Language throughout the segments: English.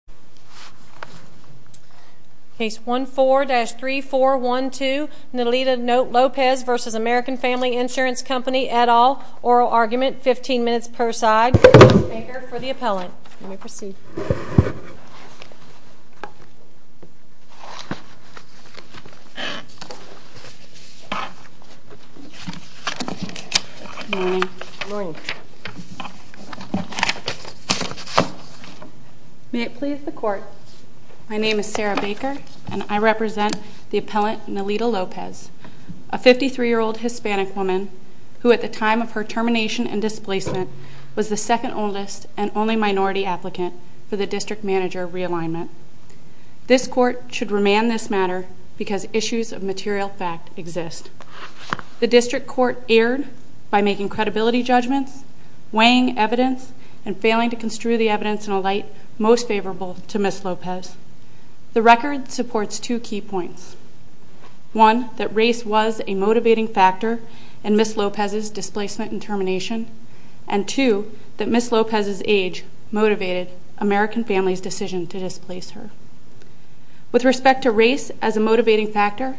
15 minutes per side. Case number 14-3412 Nelida Lopez v. American Family Insurance Company et al. Oral argument. 15 minutes per side. Court is adjourned. Make for the appellant. You may proceed. Good morning. Good morning. May it please the Court. My name is Sarah Baker, and I represent the appellant Nelida Lopez, a 53-year-old Hispanic woman who at the time of her termination and displacement was the second oldest and only minority applicant for the district manager realignment. This court should remand this matter because issues of material fact exist. The district court erred by making credibility judgments, weighing evidence, and failing to construe the evidence in a light most favorable to Ms. Lopez. The record supports two key points. One, that race was a motivating factor in Ms. Lopez's displacement and termination, and two, that Ms. Lopez's age motivated American Family's decision to displace her. With respect to race as a motivating factor,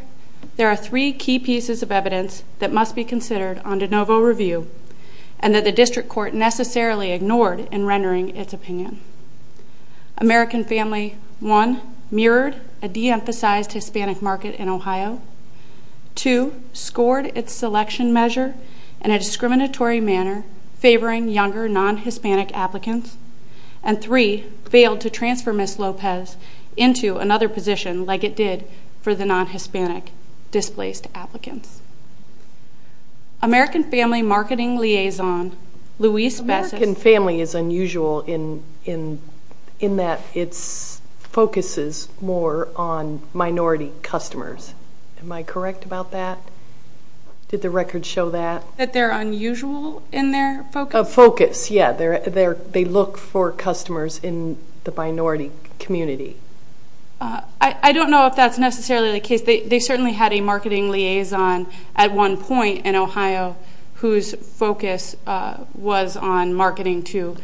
there are three key pieces of evidence that must be considered on de novo review and that the district court necessarily ignored in rendering its opinion. American Family, one, mirrored a de-emphasized Hispanic market in Ohio. Two, scored its selection measure in a discriminatory manner favoring younger non-Hispanic applicants, and three, failed to transfer Ms. Lopez into another position like it did for the non-Hispanic displaced applicants. American Family Marketing Liaison Luis Bessis American Family is unusual in that it focuses more on minority customers. Am I correct about that? Did the record show that? That they're unusual in their focus? Focus, yeah. They look for customers in the minority community. I don't know if that's necessarily the case. They certainly had a marketing liaison at one point in Ohio whose focus was on marketing to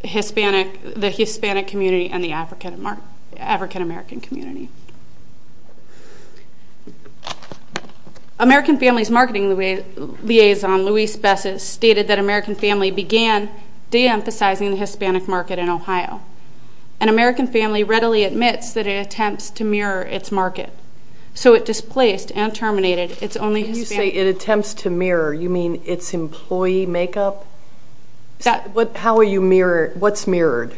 the Hispanic community and the African-American community. American Family's Marketing Liaison Luis Bessis stated that American Family began de-emphasizing the Hispanic market in Ohio. And American Family readily admits that it attempts to mirror its market. So it displaced and terminated its only Hispanic market. When you say it attempts to mirror, you mean its employee makeup? How are you mirroring? What's mirrored?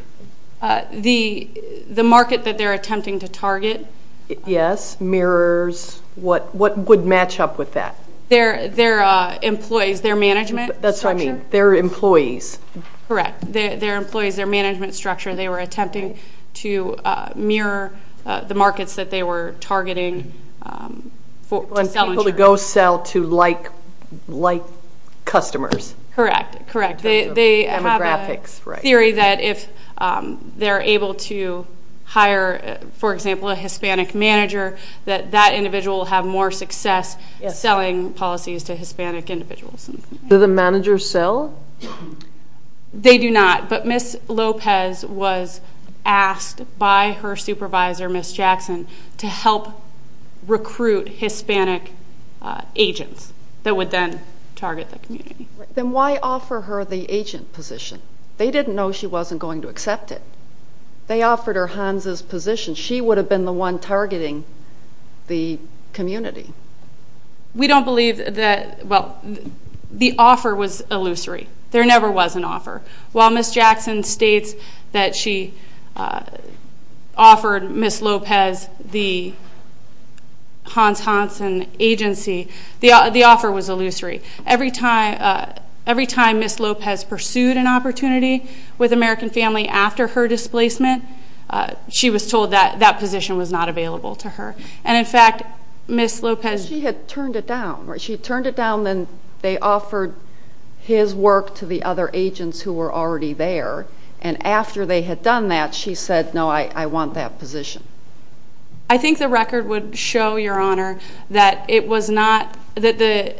The market that they're attempting to target. Yes, mirrors. What would match up with that? Their employees, their management structure. That's what I mean, their employees. Correct, their employees, their management structure. They were attempting to mirror the markets that they were targeting to sell insurance. They were able to go sell to like customers. Correct, correct. They have a theory that if they're able to hire, for example, a Hispanic manager, that that individual will have more success selling policies to Hispanic individuals. Do the managers sell? They do not. But Ms. Lopez was asked by her supervisor, Ms. Jackson, to help recruit Hispanic agents that would then target the community. Then why offer her the agent position? They didn't know she wasn't going to accept it. They offered her Hansa's position. She would have been the one targeting the community. We don't believe that the offer was illusory. There never was an offer. While Ms. Jackson states that she offered Ms. Lopez the Hans Hansen agency, the offer was illusory. Every time Ms. Lopez pursued an opportunity with American Family after her displacement, she was told that that position was not available to her. And, in fact, Ms. Lopez – She had turned it down. She had turned it down. Then they offered his work to the other agents who were already there. And after they had done that, she said, no, I want that position. I think the record would show, Your Honor, that the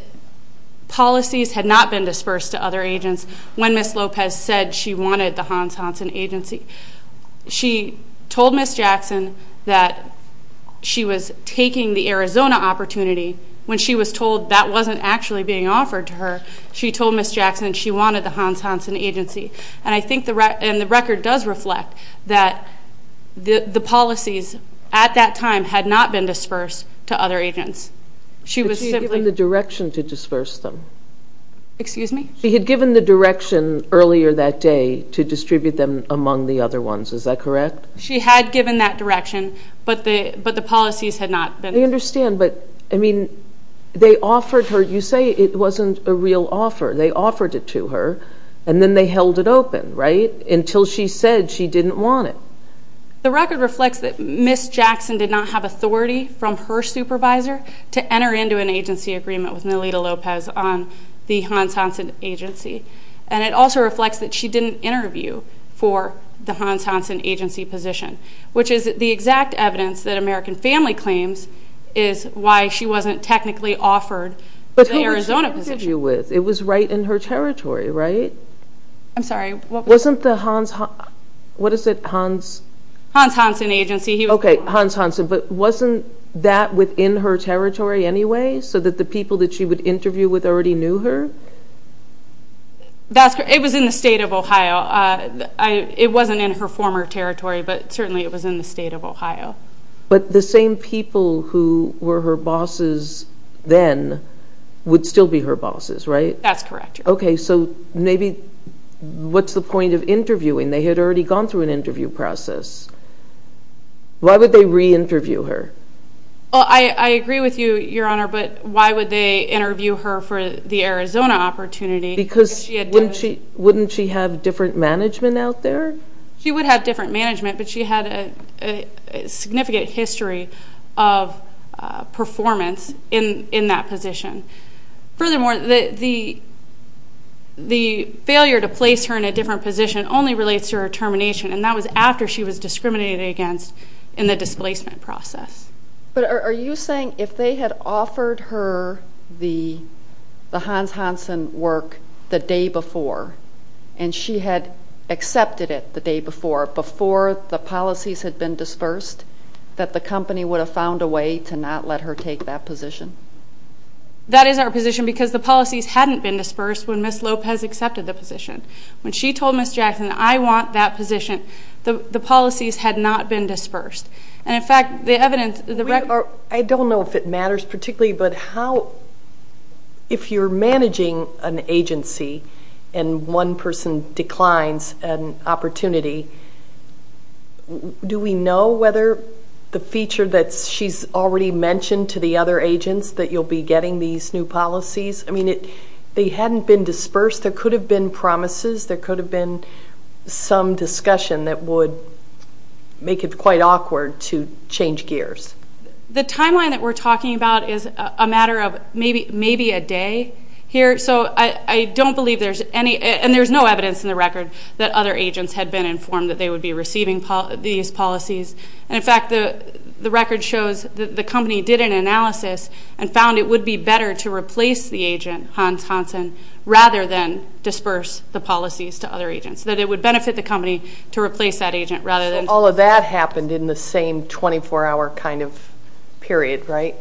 policies had not been dispersed to other agents when Ms. Lopez said she wanted the Hans Hansen agency. She told Ms. Jackson that she was taking the Arizona opportunity when she was told that wasn't actually being offered to her. She told Ms. Jackson she wanted the Hans Hansen agency. And I think the record does reflect that the policies at that time had not been dispersed to other agents. She was simply – But she had given the direction to disperse them. Excuse me? She had given the direction earlier that day to distribute them among the other ones. She had given that direction, but the policies had not been – I understand, but, I mean, they offered her – You say it wasn't a real offer. They offered it to her, and then they held it open, right? Until she said she didn't want it. The record reflects that Ms. Jackson did not have authority from her supervisor to enter into an agency agreement with Melinda Lopez on the Hans Hansen agency. And it also reflects that she didn't interview for the Hans Hansen agency position, which is the exact evidence that American Family claims is why she wasn't technically offered the Arizona position. But who was she interviewing with? It was right in her territory, right? I'm sorry. Wasn't the Hans – what is it? Hans – Hans Hansen agency. Okay, Hans Hansen, but wasn't that within her territory anyway so that the people that she would interview with already knew her? It was in the state of Ohio. It wasn't in her former territory, but certainly it was in the state of Ohio. But the same people who were her bosses then would still be her bosses, right? That's correct. Okay, so maybe – what's the point of interviewing? They had already gone through an interview process. Why would they re-interview her? Well, I agree with you, Your Honor, but why would they interview her for the Arizona opportunity? Because wouldn't she have different management out there? She would have different management, but she had a significant history of performance in that position. Furthermore, the failure to place her in a different position only relates to her termination, and that was after she was discriminated against in the displacement process. But are you saying if they had offered her the Hans Hansen work the day before and she had accepted it the day before, before the policies had been dispersed, that the company would have found a way to not let her take that position? That is our position because the policies hadn't been dispersed when Ms. Lopez accepted the position. When she told Ms. Jackson, I want that position, the policies had not been dispersed. And, in fact, the evidence... I don't know if it matters particularly, but if you're managing an agency and one person declines an opportunity, do we know whether the feature that she's already mentioned to the other agents that you'll be getting these new policies? I mean, they hadn't been dispersed. There could have been promises. There could have been some discussion that would make it quite awkward to change gears. The timeline that we're talking about is a matter of maybe a day here. So I don't believe there's any, and there's no evidence in the record that other agents had been informed that they would be receiving these policies. And, in fact, the record shows that the company did an analysis and found it would be better to replace the agent, Hans Hansen, rather than disperse the policies to other agents, that it would benefit the company to replace that agent rather than... So all of that happened in the same 24-hour kind of period, right?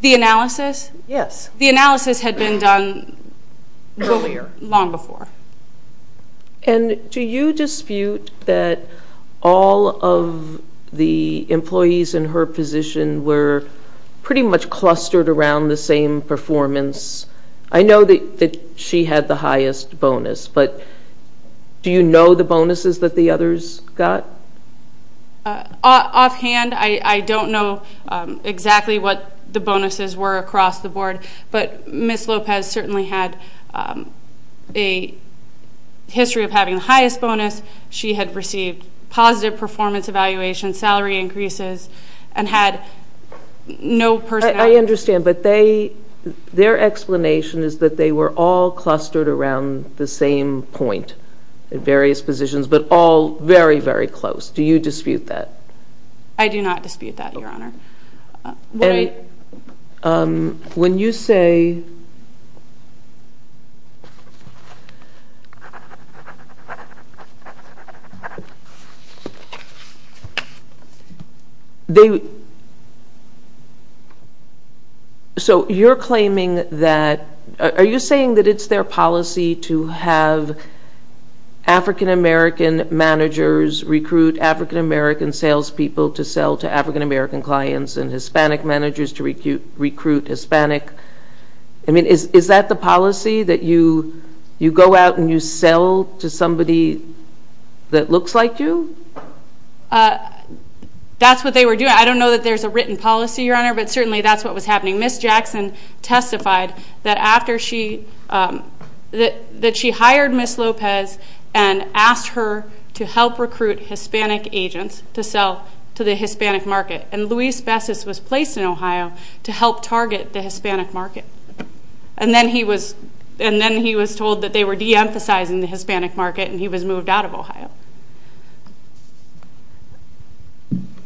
The analysis? Yes. The analysis had been done earlier, long before. And do you dispute that all of the employees in her position were pretty much clustered around the same performance? I know that she had the highest bonus, but do you know the bonuses that the others got? Offhand, I don't know exactly what the bonuses were across the board, but Ms. Lopez certainly had a history of having the highest bonus. She had received positive performance evaluations, salary increases, and had no personnel. I understand, but their explanation is that they were all clustered around the same point in various positions, but all very, very close. Do you dispute that? I do not dispute that, Your Honor. When you say... So you're claiming that... Are you saying that it's their policy to have African-American managers recruit African-American salespeople to sell to African-American clients and Hispanic managers to recruit Hispanic... I mean, is that the policy, that you go out and you sell to somebody that looks like you? That's what they were doing. I don't know that there's a written policy, Your Honor, but certainly that's what was happening. Ms. Jackson testified that after she... that she hired Ms. Lopez and asked her to help recruit Hispanic agents to sell to the Hispanic market, and Luis Bessis was placed in Ohio to help target the Hispanic market. And then he was told that they were de-emphasizing the Hispanic market and he was moved out of Ohio.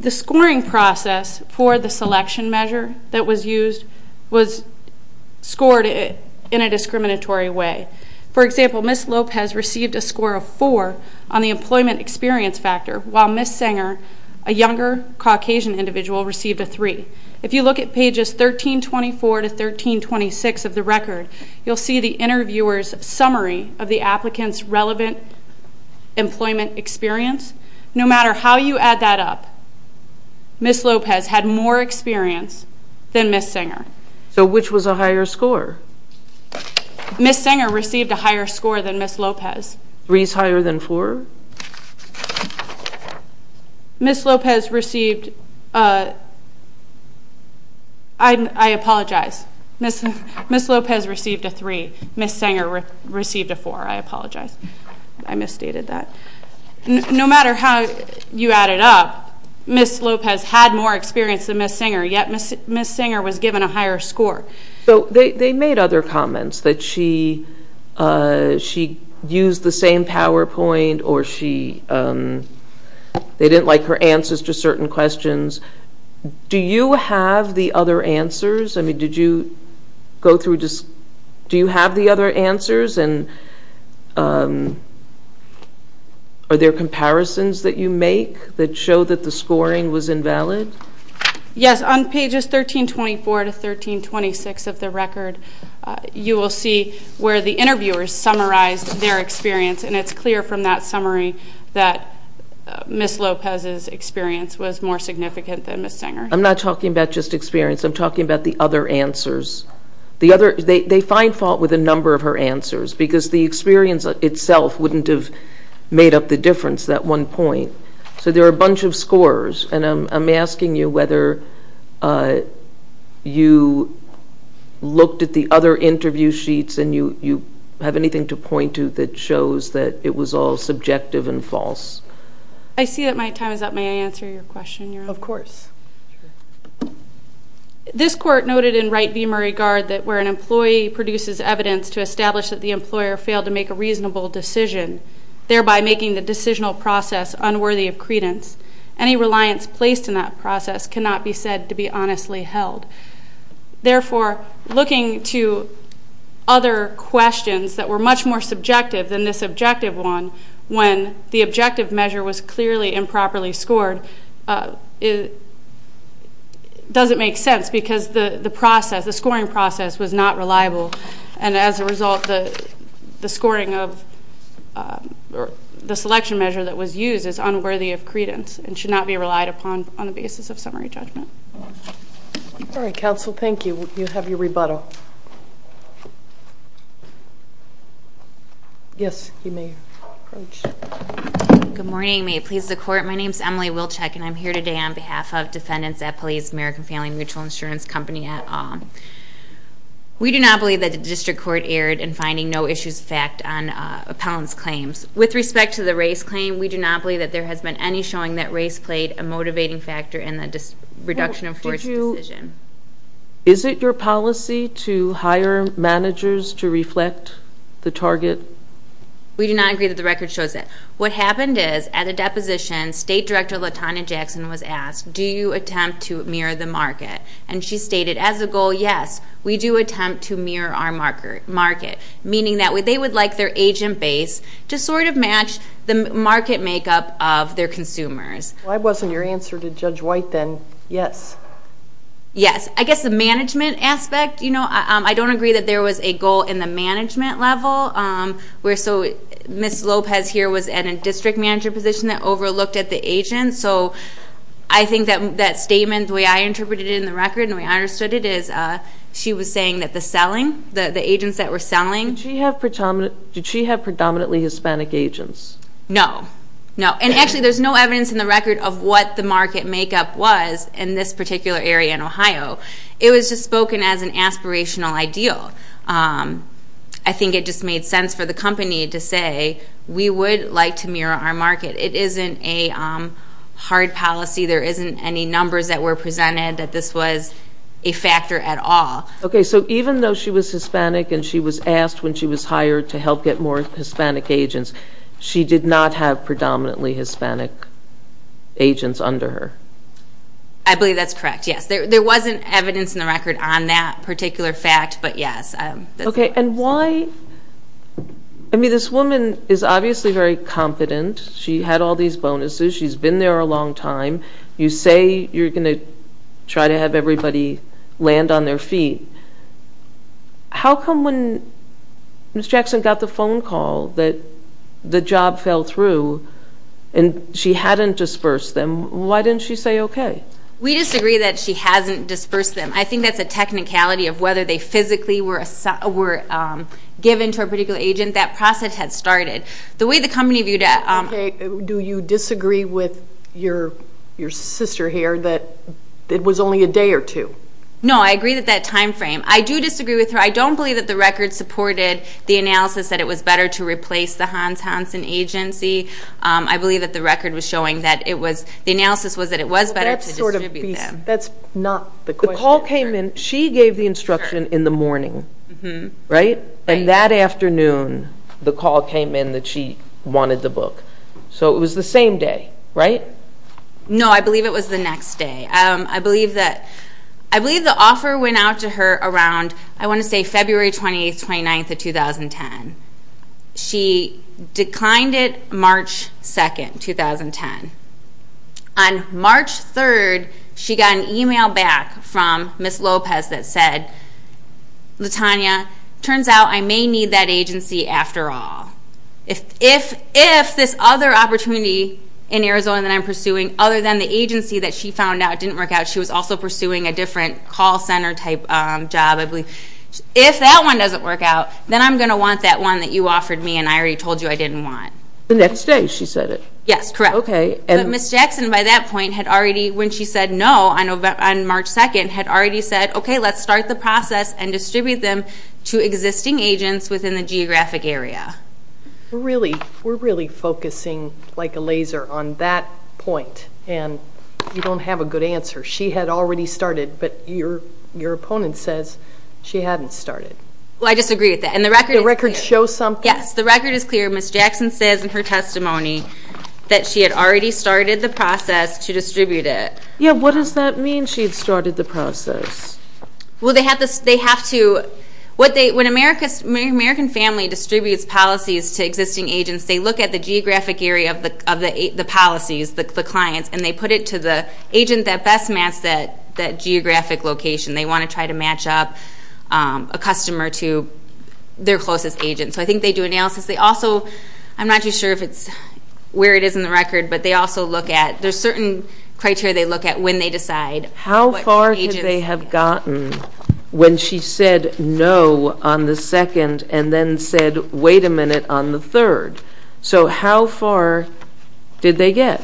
The scoring process for the selection measure that was used was scored in a discriminatory way. For example, Ms. Lopez received a score of 4 on the employment experience factor, while Ms. Singer, a younger Caucasian individual, received a 3. If you look at pages 1324 to 1326 of the record, you'll see the interviewer's summary of the applicant's relevant employment experience. No matter how you add that up, Ms. Lopez had more experience than Ms. Singer. So which was a higher score? Ms. Singer received a higher score than Ms. Lopez. 3 is higher than 4? Ms. Lopez received... I apologize. Ms. Lopez received a 3. Ms. Singer received a 4. I apologize. I misstated that. No matter how you add it up, Ms. Lopez had more experience than Ms. Singer, yet Ms. Singer was given a higher score. So they made other comments, that she used the same PowerPoint or they didn't like her answers to certain questions. Do you have the other answers? I mean, did you go through just... Are there comparisons that you make that show that the scoring was invalid? Yes. On pages 1324 to 1326 of the record, you will see where the interviewer summarized their experience, and it's clear from that summary that Ms. Lopez's experience was more significant than Ms. Singer's. I'm not talking about just experience. I'm talking about the other answers. They find fault with a number of her answers because the experience itself wouldn't have made up the difference at one point. So there are a bunch of scores, and I'm asking you whether you looked at the other interview sheets and you have anything to point to that shows that it was all subjective and false. I see that my time is up. May I answer your question? Of course. This court noted in Wright v. Murray Gard that where an employee produces evidence to establish that the employer failed to make a reasonable decision, thereby making the decisional process unworthy of credence, any reliance placed in that process cannot be said to be honestly held. Therefore, looking to other questions that were much more subjective than this objective one when the objective measure was clearly improperly scored doesn't make sense because the scoring process was not reliable, and as a result the scoring of the selection measure that was used is unworthy of credence and should not be relied upon on the basis of summary judgment. All right, counsel. Thank you. You have your rebuttal. Yes, you may approach. Good morning. May it please the Court. My name is Emily Wilczek, and I'm here today on behalf of defendants at Police American Family Mutual Insurance Company. We do not believe that the district court erred in finding no issues of fact on appellant's claims. With respect to the race claim, we do not believe that there has been any showing that race played a motivating factor in the reduction of force decision. Is it your policy to hire managers to reflect the target? We do not agree that the record shows that. What happened is at a deposition, State Director LaTanya Jackson was asked, do you attempt to mirror the market? And she stated, as a goal, yes, we do attempt to mirror our market, meaning that they would like their agent base to sort of match the market makeup of their consumers. If that wasn't your answer to Judge White, then yes. Yes. I guess the management aspect, you know, I don't agree that there was a goal in the management level. Ms. Lopez here was in a district manager position that overlooked at the agent, so I think that statement, the way I interpreted it in the record and the way I understood it, is she was saying that the selling, the agents that were selling. Did she have predominantly Hispanic agents? No, no. And actually, there's no evidence in the record of what the market makeup was in this particular area in Ohio. It was just spoken as an aspirational ideal. I think it just made sense for the company to say we would like to mirror our market. It isn't a hard policy. There isn't any numbers that were presented that this was a factor at all. Okay. So even though she was Hispanic and she was asked when she was hired to help get more Hispanic agents, she did not have predominantly Hispanic agents under her? I believe that's correct, yes. There wasn't evidence in the record on that particular fact, but yes. Okay, and why? I mean, this woman is obviously very confident. She had all these bonuses. She's been there a long time. You say you're going to try to have everybody land on their feet. How come when Ms. Jackson got the phone call that the job fell through and she hadn't dispersed them, why didn't she say okay? We disagree that she hasn't dispersed them. I think that's a technicality of whether they physically were given to a particular agent. That process had started. Okay, do you disagree with your sister here that it was only a day or two? No, I agree with that time frame. I do disagree with her. I don't believe that the record supported the analysis that it was better to replace the Hans Hansen agency. I believe that the record was showing that the analysis was that it was better to distribute them. That's not the question. The call came in. She gave the instruction in the morning, right? And that afternoon the call came in that she wanted the book. So it was the same day, right? No, I believe it was the next day. I believe the offer went out to her around, I want to say, February 28th, 29th of 2010. She declined it March 2nd, 2010. On March 3rd, she got an e-mail back from Ms. Lopez that said, Latanya, turns out I may need that agency after all. If this other opportunity in Arizona that I'm pursuing, other than the agency that she found out didn't work out, she was also pursuing a different call center type job, I believe. If that one doesn't work out, then I'm going to want that one that you offered me and I already told you I didn't want. The next day she said it? Yes, correct. Okay. But Ms. Jackson by that point had already, when she said no on March 2nd, had already said, Okay, let's start the process and distribute them to existing agents within the geographic area. We're really focusing like a laser on that point, and you don't have a good answer. She had already started, but your opponent says she hadn't started. Well, I disagree with that. And the record is clear. The record shows something? Yes, the record is clear. Ms. Jackson says in her testimony that she had already started the process to distribute it. Yeah, what does that mean, she had started the process? Well, they have to, when an American family distributes policies to existing agents, they look at the geographic area of the policies, the clients, and they put it to the agent that best matches that geographic location. They want to try to match up a customer to their closest agent. So I think they do analysis. They also, I'm not too sure if it's where it is in the record, but they also look at, there's certain criteria they look at when they decide. How far did they have gotten when she said no on the second and then said, wait a minute, on the third? So how far did they get?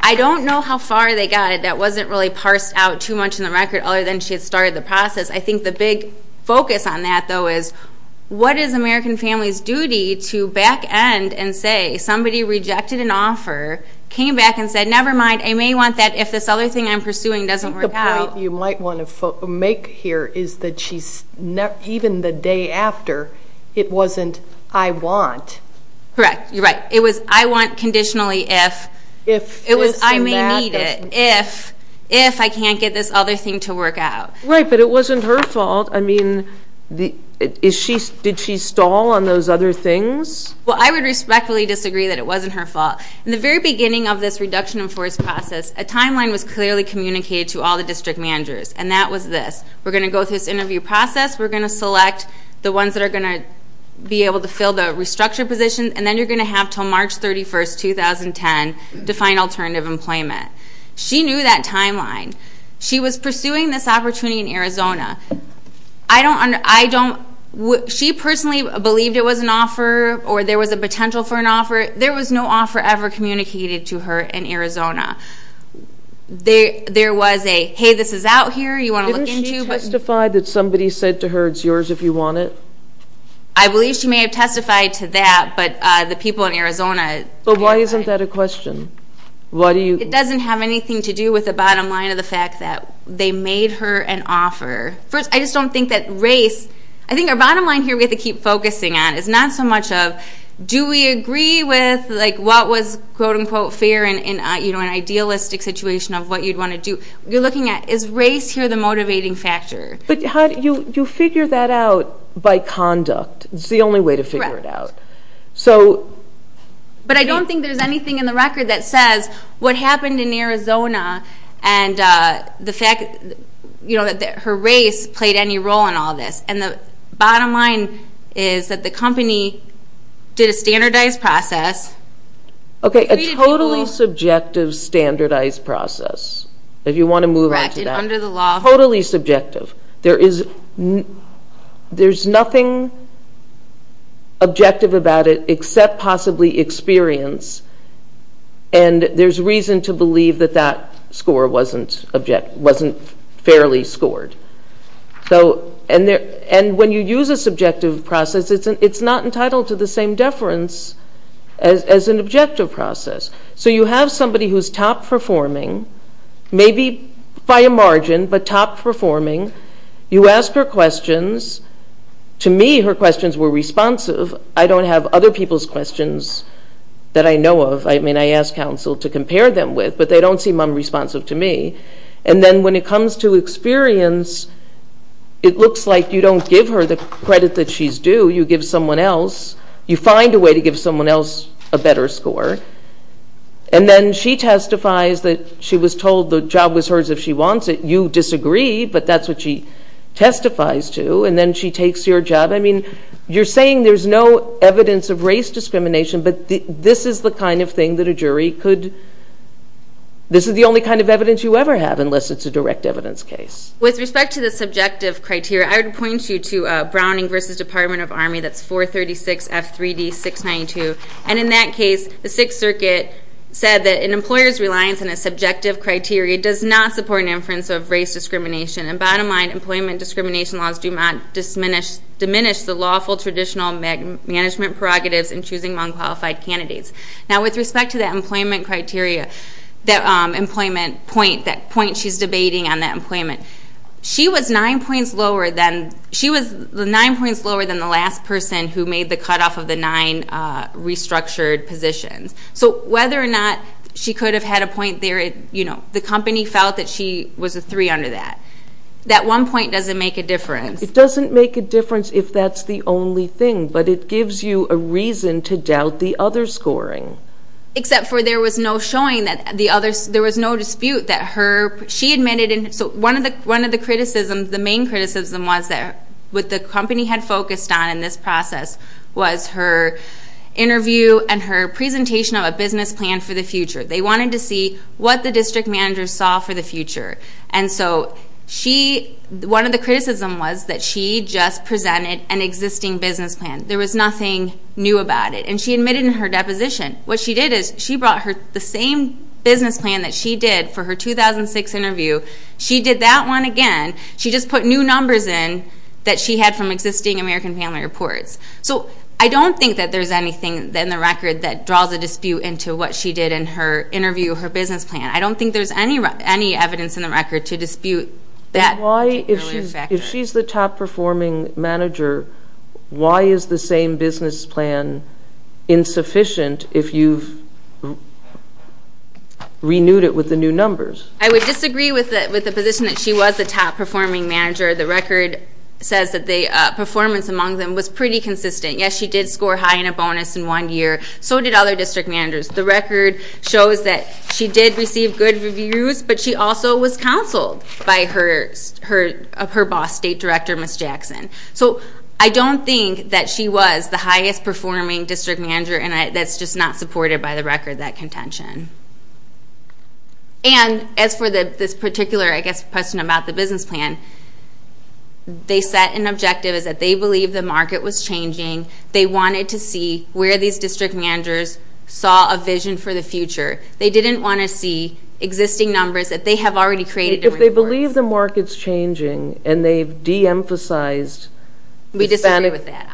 I don't know how far they got. That wasn't really parsed out too much in the record other than she had started the process. I think the big focus on that, though, is what is an American family's duty to back end and say somebody rejected an offer, came back and said, never mind, I may want that if this other thing I'm pursuing doesn't work out. I think the point you might want to make here is that even the day after, it wasn't I want. Correct. You're right. It was I want conditionally if. It was I may need it if I can't get this other thing to work out. Right, but it wasn't her fault. I mean, did she stall on those other things? Well, I would respectfully disagree that it wasn't her fault. In the very beginning of this reduction in force process, a timeline was clearly communicated to all the district managers, and that was this. We're going to go through this interview process. We're going to select the ones that are going to be able to fill the restructured positions, and then you're going to have until March 31, 2010 to find alternative employment. She knew that timeline. She was pursuing this opportunity in Arizona. She personally believed it was an offer or there was a potential for an offer. There was no offer ever communicated to her in Arizona. There was a, hey, this is out here, you want to look into. Didn't she testify that somebody said to her, it's yours if you want it? I believe she may have testified to that, but the people in Arizona. But why isn't that a question? It doesn't have anything to do with the bottom line of the fact that they made her an offer. First, I just don't think that race. I think our bottom line here we have to keep focusing on is not so much of do we agree with what was quote-unquote fair in an idealistic situation of what you'd want to do. You're looking at is race here the motivating factor? But you figure that out by conduct. It's the only way to figure it out. But I don't think there's anything in the record that says what happened in Arizona and the fact that her race played any role in all this. And the bottom line is that the company did a standardized process. Okay, a totally subjective standardized process, if you want to move on to that. Totally subjective. There's nothing objective about it except possibly experience. And there's reason to believe that that score wasn't fairly scored. And when you use a subjective process, it's not entitled to the same deference as an objective process. So you have somebody who's top-performing, maybe by a margin, but top-performing. You ask her questions. To me, her questions were responsive. I don't have other people's questions that I know of. I mean, I ask counsel to compare them with, but they don't seem unresponsive to me. And then when it comes to experience, it looks like you don't give her the credit that she's due. You give someone else. You find a way to give someone else a better score. And then she testifies that she was told the job was hers if she wants it. You disagree, but that's what she testifies to. And then she takes your job. I mean, you're saying there's no evidence of race discrimination, but this is the kind of thing that a jury could ‑‑ this is the only kind of evidence you ever have unless it's a direct evidence case. With respect to the subjective criteria, I would point you to Browning v. Department of Army. That's 436F3D692. And in that case, the Sixth Circuit said that an employer's reliance on a subjective criteria does not support an inference of race discrimination. And bottom line, employment discrimination laws do not diminish the lawful traditional management prerogatives in choosing nonqualified candidates. Now, with respect to that employment criteria, that employment point, that point she's debating on that employment, she was nine points lower than the last person who made the cutoff of the nine restructured positions. So whether or not she could have had a point there, the company felt that she was a three under that. That one point doesn't make a difference. It doesn't make a difference if that's the only thing, but it gives you a reason to doubt the other scoring. Except for there was no showing that the other ‑‑ there was no dispute that her ‑‑ she admitted in ‑‑ so one of the criticisms, the main criticism was that what the company had focused on in this process was her interview and her presentation of a business plan for the future. They wanted to see what the district manager saw for the future. And so she ‑‑ one of the criticisms was that she just presented an existing business plan. There was nothing new about it. And she admitted in her deposition. What she did is she brought the same business plan that she did for her 2006 interview. She did that one again. She just put new numbers in that she had from existing American Family Reports. So I don't think that there's anything in the record that draws a dispute into what she did in her interview, her business plan. I don't think there's any evidence in the record to dispute that earlier factor. If she's the top performing manager, why is the same business plan insufficient if you've renewed it with the new numbers? I would disagree with the position that she was the top performing manager. The record says that the performance among them was pretty consistent. Yes, she did score high in a bonus in one year. So did other district managers. The record shows that she did receive good reviews, but she also was counseled by her boss, State Director Ms. Jackson. So I don't think that she was the highest performing district manager, and that's just not supported by the record, that contention. And as for this particular, I guess, question about the business plan, they set an objective is that they believe the market was changing. They wanted to see where these district managers saw a vision for the future. They didn't want to see existing numbers that they have already created. If they believe the market's changing and they've de-emphasized the Hispanic market.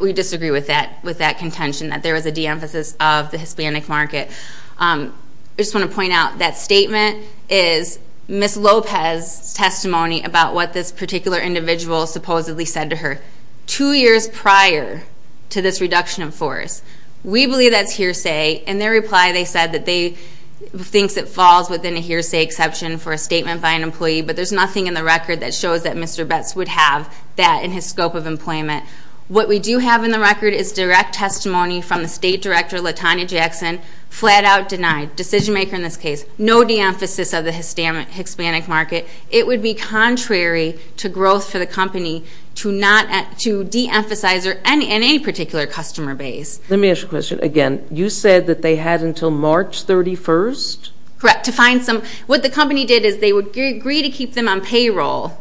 We disagree with that contention, that there was a de-emphasis of the Hispanic market. I just want to point out that statement is Ms. Lopez's testimony about what this particular individual supposedly said to her two years prior to this reduction in force. We believe that's hearsay. In their reply, they said that they think it falls within a hearsay exception for a statement by an employee, but there's nothing in the record that shows that Mr. Betz would have that in his scope of employment. What we do have in the record is direct testimony from the State Director Latanya Jackson, flat-out denied, decision-maker in this case, no de-emphasis of the Hispanic market. It would be contrary to growth for the company to de-emphasize in any particular customer base. Let me ask you a question again. You said that they had until March 31st? Correct, to find some. What the company did is they would agree to keep them on payroll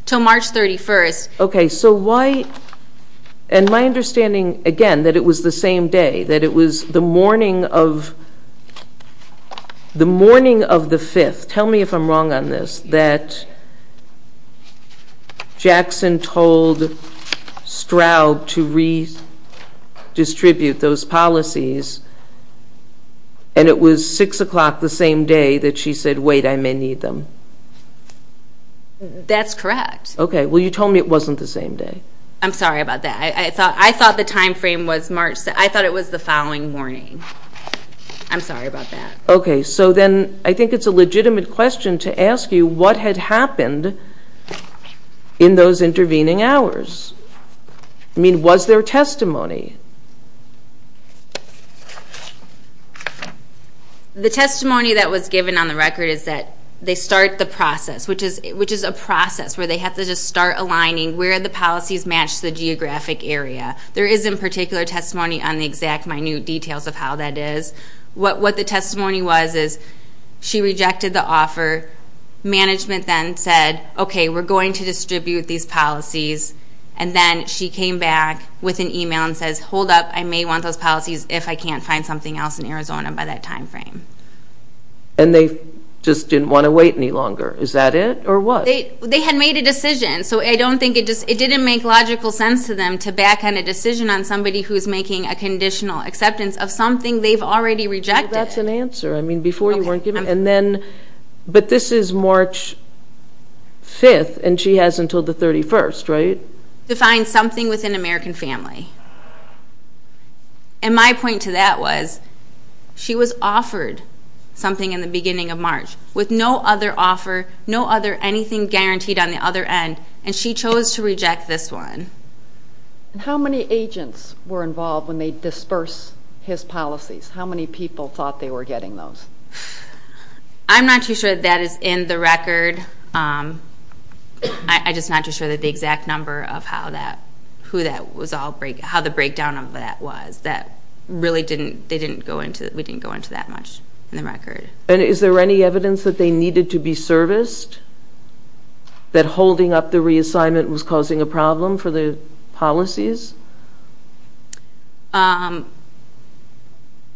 until March 31st. Okay, so why? And my understanding, again, that it was the same day, that it was the morning of the 5th. Tell me if I'm wrong on this, that Jackson told Stroud to redistribute those policies and it was 6 o'clock the same day that she said, wait, I may need them. That's correct. Okay, well, you told me it wasn't the same day. I'm sorry about that. I thought the time frame was March, I thought it was the following morning. I'm sorry about that. Okay, so then I think it's a legitimate question to ask you what had happened in those intervening hours. I mean, was there testimony? The testimony that was given on the record is that they start the process, which is a process where they have to just start aligning where the policies match the geographic area. There is, in particular, testimony on the exact minute details of how that is. What the testimony was is she rejected the offer. Management then said, okay, we're going to distribute these policies, and then she came back with an email and says, hold up, I may want those policies if I can't find something else in Arizona by that time frame. And they just didn't want to wait any longer. Is that it or what? They had made a decision, so I don't think it just didn't make logical sense to them to back on a decision on somebody who is making a conditional acceptance of something they've already rejected. Well, that's an answer. I mean, before you weren't given. And then, but this is March 5th, and she has until the 31st, right? To find something within American Family. With no other offer, no other anything guaranteed on the other end, and she chose to reject this one. And how many agents were involved when they disperse his policies? How many people thought they were getting those? I'm not too sure that is in the record. I'm just not too sure that the exact number of how that, who that was all, how the breakdown of that was. That really didn't, they didn't go into, we didn't go into that much in the record. And is there any evidence that they needed to be serviced? That holding up the reassignment was causing a problem for the policies?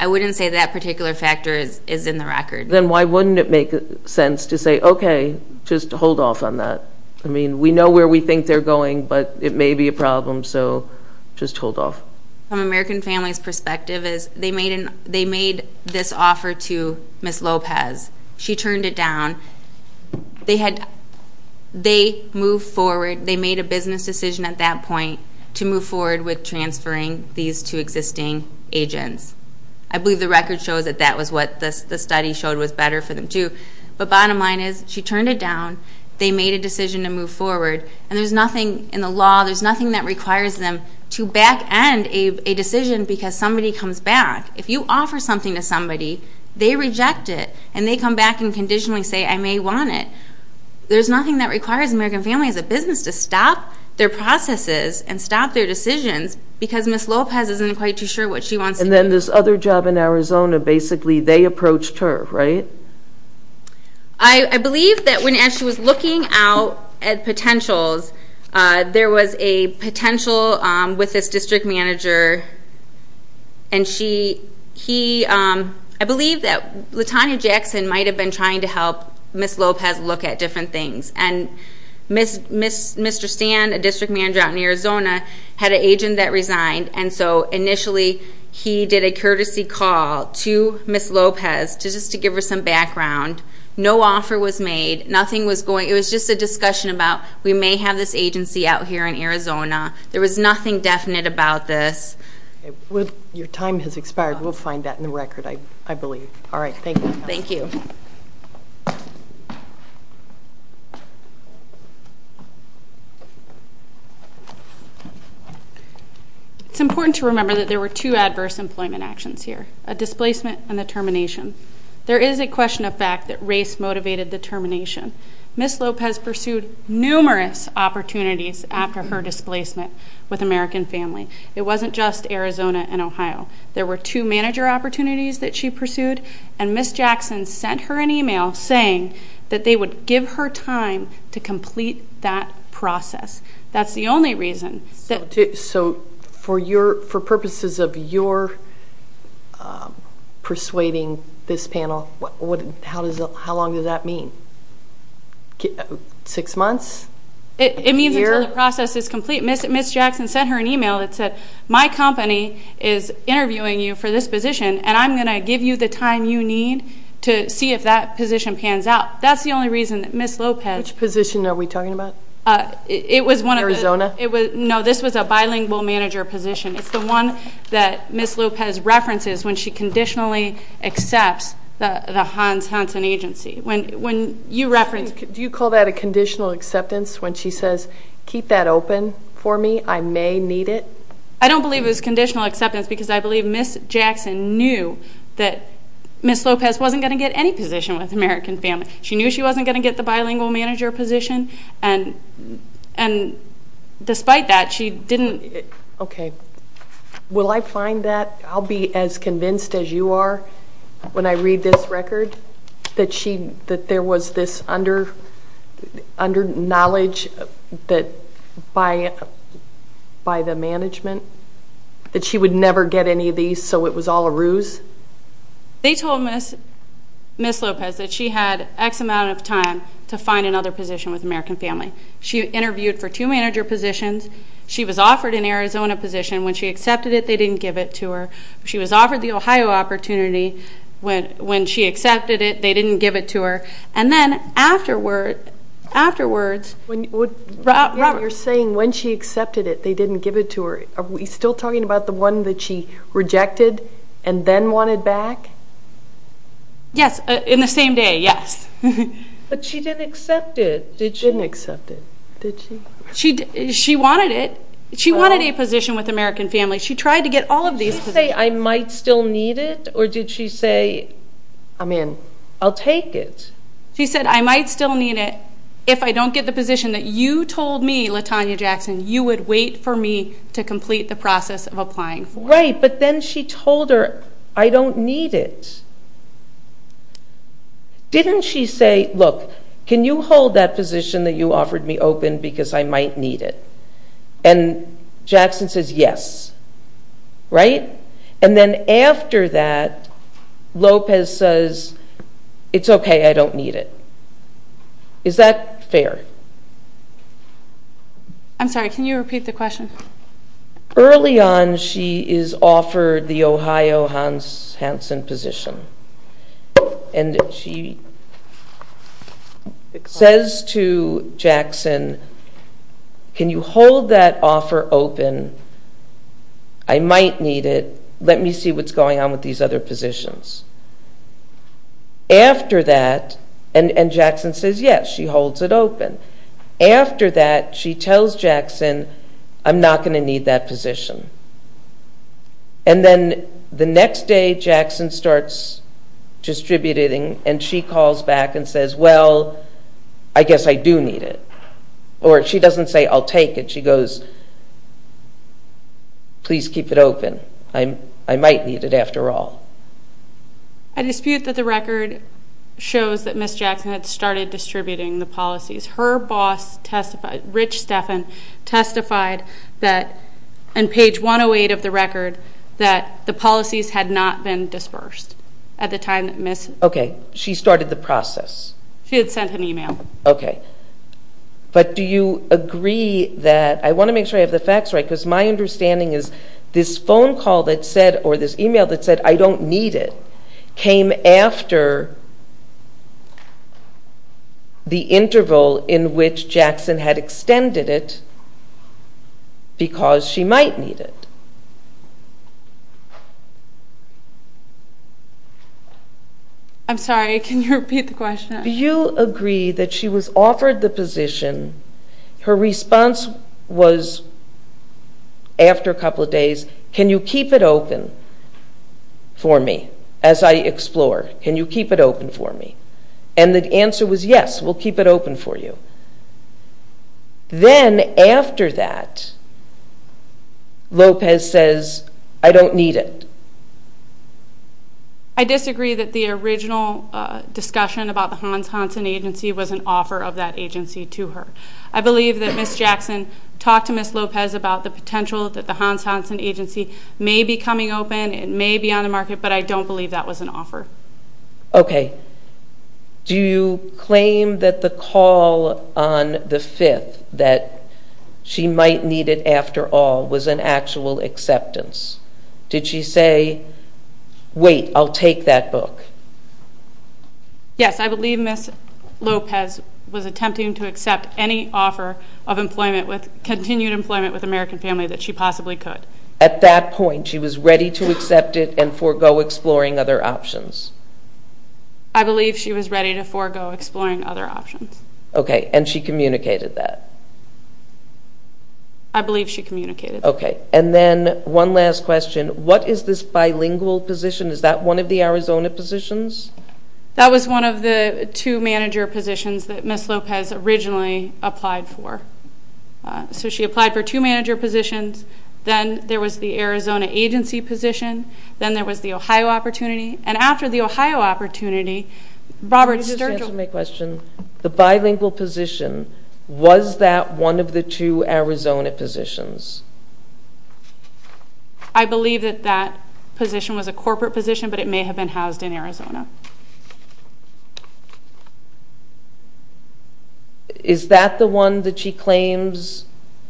I wouldn't say that particular factor is in the record. Then why wouldn't it make sense to say, okay, just hold off on that? I mean, we know where we think they're going, but it may be a problem, so just hold off. From American Family's perspective is they made this offer to Ms. Lopez. She turned it down. They moved forward. They made a business decision at that point to move forward with transferring these two existing agents. I believe the record shows that that was what the study showed was better for them, too. But bottom line is she turned it down. They made a decision to move forward. And there's nothing in the law, there's nothing that requires them to back end a decision because somebody comes back. If you offer something to somebody, they reject it, and they come back and conditionally say, I may want it. There's nothing that requires American Family as a business to stop their processes and stop their decisions because Ms. Lopez isn't quite too sure what she wants to do. And then this other job in Arizona, basically they approached her, right? I believe that as she was looking out at potentials, there was a potential with this district manager, and I believe that Latanya Jackson might have been trying to help Ms. Lopez look at different things. And Mr. Stand, a district manager out in Arizona, had an agent that resigned, and so initially he did a courtesy call to Ms. Lopez just to give her some background. No offer was made. It was just a discussion about we may have this agency out here in Arizona. There was nothing definite about this. Your time has expired. We'll find that in the record, I believe. All right, thank you. Thank you. It's important to remember that there were two adverse employment actions here, a displacement and a termination. There is a question of fact that race motivated the termination. Ms. Lopez pursued numerous opportunities after her displacement with American Family. It wasn't just Arizona and Ohio. There were two manager opportunities that she pursued, and Ms. Jackson sent her an email saying that they would give her time to complete that process. That's the only reason. So for purposes of your persuading this panel, how long does that mean? Six months? It means until the process is complete. Ms. Jackson sent her an email that said, My company is interviewing you for this position, and I'm going to give you the time you need to see if that position pans out. That's the only reason that Ms. Lopez – Which position are we talking about? It was one of the – Arizona? No, this was a bilingual manager position. It's the one that Ms. Lopez references when she conditionally accepts the Hans Hansen agency. When you reference – Do you call that a conditional acceptance when she says, Keep that open for me. I may need it. I don't believe it was conditional acceptance because I believe Ms. Jackson knew that Ms. Lopez wasn't going to get any position with American Family. She knew she wasn't going to get the bilingual manager position, and despite that, she didn't – Okay. Will I find that – I'll be as convinced as you are when I read this record, that there was this under-knowledge by the management that she would never get any of these, so it was all a ruse? They told Ms. Lopez that she had X amount of time to find another position with American Family. She interviewed for two manager positions. She was offered an Arizona position. When she accepted it, they didn't give it to her. She was offered the Ohio opportunity. When she accepted it, they didn't give it to her. And then afterwards – You're saying when she accepted it, they didn't give it to her. Are we still talking about the one that she rejected and then wanted back? Yes, in the same day, yes. But she didn't accept it, did she? She didn't accept it, did she? She wanted it. She wanted a position with American Family. She tried to get all of these positions. Did she say, I might still need it, or did she say, I'll take it? She said, I might still need it if I don't get the position that you told me, Latonya Jackson, you would wait for me to complete the process of applying for. Right, but then she told her, I don't need it. Didn't she say, look, can you hold that position that you offered me open because I might need it? And Jackson says, yes. Right? And then after that, Lopez says, it's okay, I don't need it. Is that fair? I'm sorry, can you repeat the question? Early on, she is offered the Ohio Hansen position. And she says to Jackson, can you hold that offer open? I might need it. Let me see what's going on with these other positions. After that, and Jackson says, yes, she holds it open. After that, she tells Jackson, I'm not going to need that position. And then the next day, Jackson starts distributing, and she calls back and says, well, I guess I do need it. Or she doesn't say, I'll take it. She goes, please keep it open. I might need it after all. I dispute that the record shows that Ms. Jackson had started distributing the policies. Her boss, Rich Stephan, testified that, on page 108 of the record, that the policies had not been dispersed at the time that Ms. ---- Okay, she started the process. She had sent an email. Okay. But do you agree that, I want to make sure I have the facts right, because my understanding is this phone call that said, or this email that said, I don't need it, came after the interval in which Jackson had extended it because she might need it? I'm sorry, can you repeat the question? Do you agree that she was offered the position, her response was, after a couple of days, can you keep it open for me as I explore? Can you keep it open for me? And the answer was, yes, we'll keep it open for you. Then, after that, Lopez says, I don't need it. I disagree that the original discussion about the Hans Hansen agency was an offer of that agency to her. I believe that Ms. Jackson talked to Ms. Lopez about the potential that the Hans Hansen agency may be coming open, it may be on the market, but I don't believe that was an offer. Okay. Do you claim that the call on the 5th, that she might need it after all, was an actual acceptance? Did she say, wait, I'll take that book? Yes, I believe Ms. Lopez was attempting to accept any offer of employment, continued employment with an American family that she possibly could. At that point, she was ready to accept it and forego exploring other options? I believe she was ready to forego exploring other options. Okay. And she communicated that? I believe she communicated that. Okay. And then one last question, what is this bilingual position? Is that one of the Arizona positions? That was one of the two manager positions that Ms. Lopez originally applied for. So she applied for two manager positions. Then there was the Arizona agency position. Then there was the Ohio opportunity. And after the Ohio opportunity, Robert Sturgill. Let me just answer my question. The bilingual position, was that one of the two Arizona positions? I believe that that position was a corporate position, but it may have been housed in Arizona. Is that the one that she claims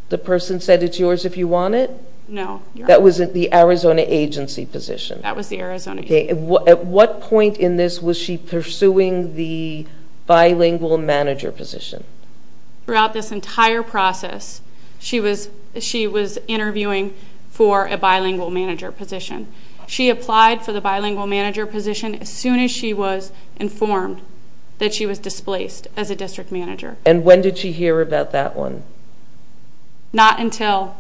the person said it's yours if you want it? No. That was the Arizona agency position? That was the Arizona agency. Okay. At what point in this was she pursuing the bilingual manager position? Throughout this entire process, she was interviewing for a bilingual manager position. She applied for the bilingual manager position as soon as she was informed that she was displaced as a district manager. And when did she hear about that one? Not until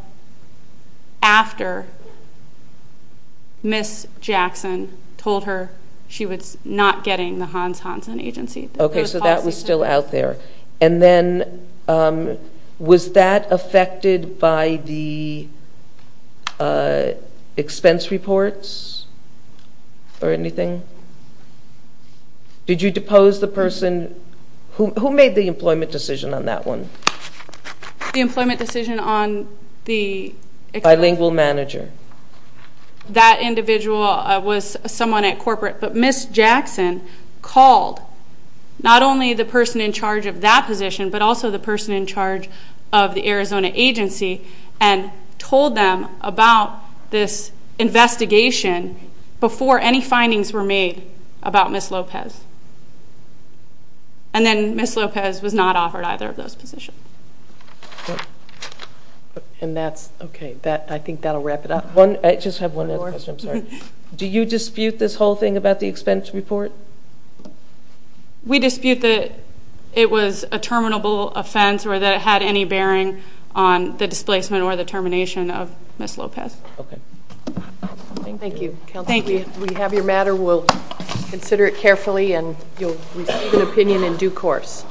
after Ms. Jackson told her she was not getting the Hans Hansen agency. Okay. So that was still out there. And then was that affected by the expense reports or anything? Did you depose the person? Who made the employment decision on that one? The employment decision on the expense report? Bilingual manager. That individual was someone at corporate. But Ms. Jackson called not only the person in charge of that position but also the person in charge of the Arizona agency and told them about this investigation before any findings were made about Ms. Lopez. And then Ms. Lopez was not offered either of those positions. And that's okay. I think that will wrap it up. I just have one more question. I'm sorry. Do you dispute this whole thing about the expense report? We dispute that it was a terminable offense or that it had any bearing on the displacement or the termination of Ms. Lopez. Okay. Thank you. We have your matter. We'll consider it carefully. And you'll receive an opinion in due course.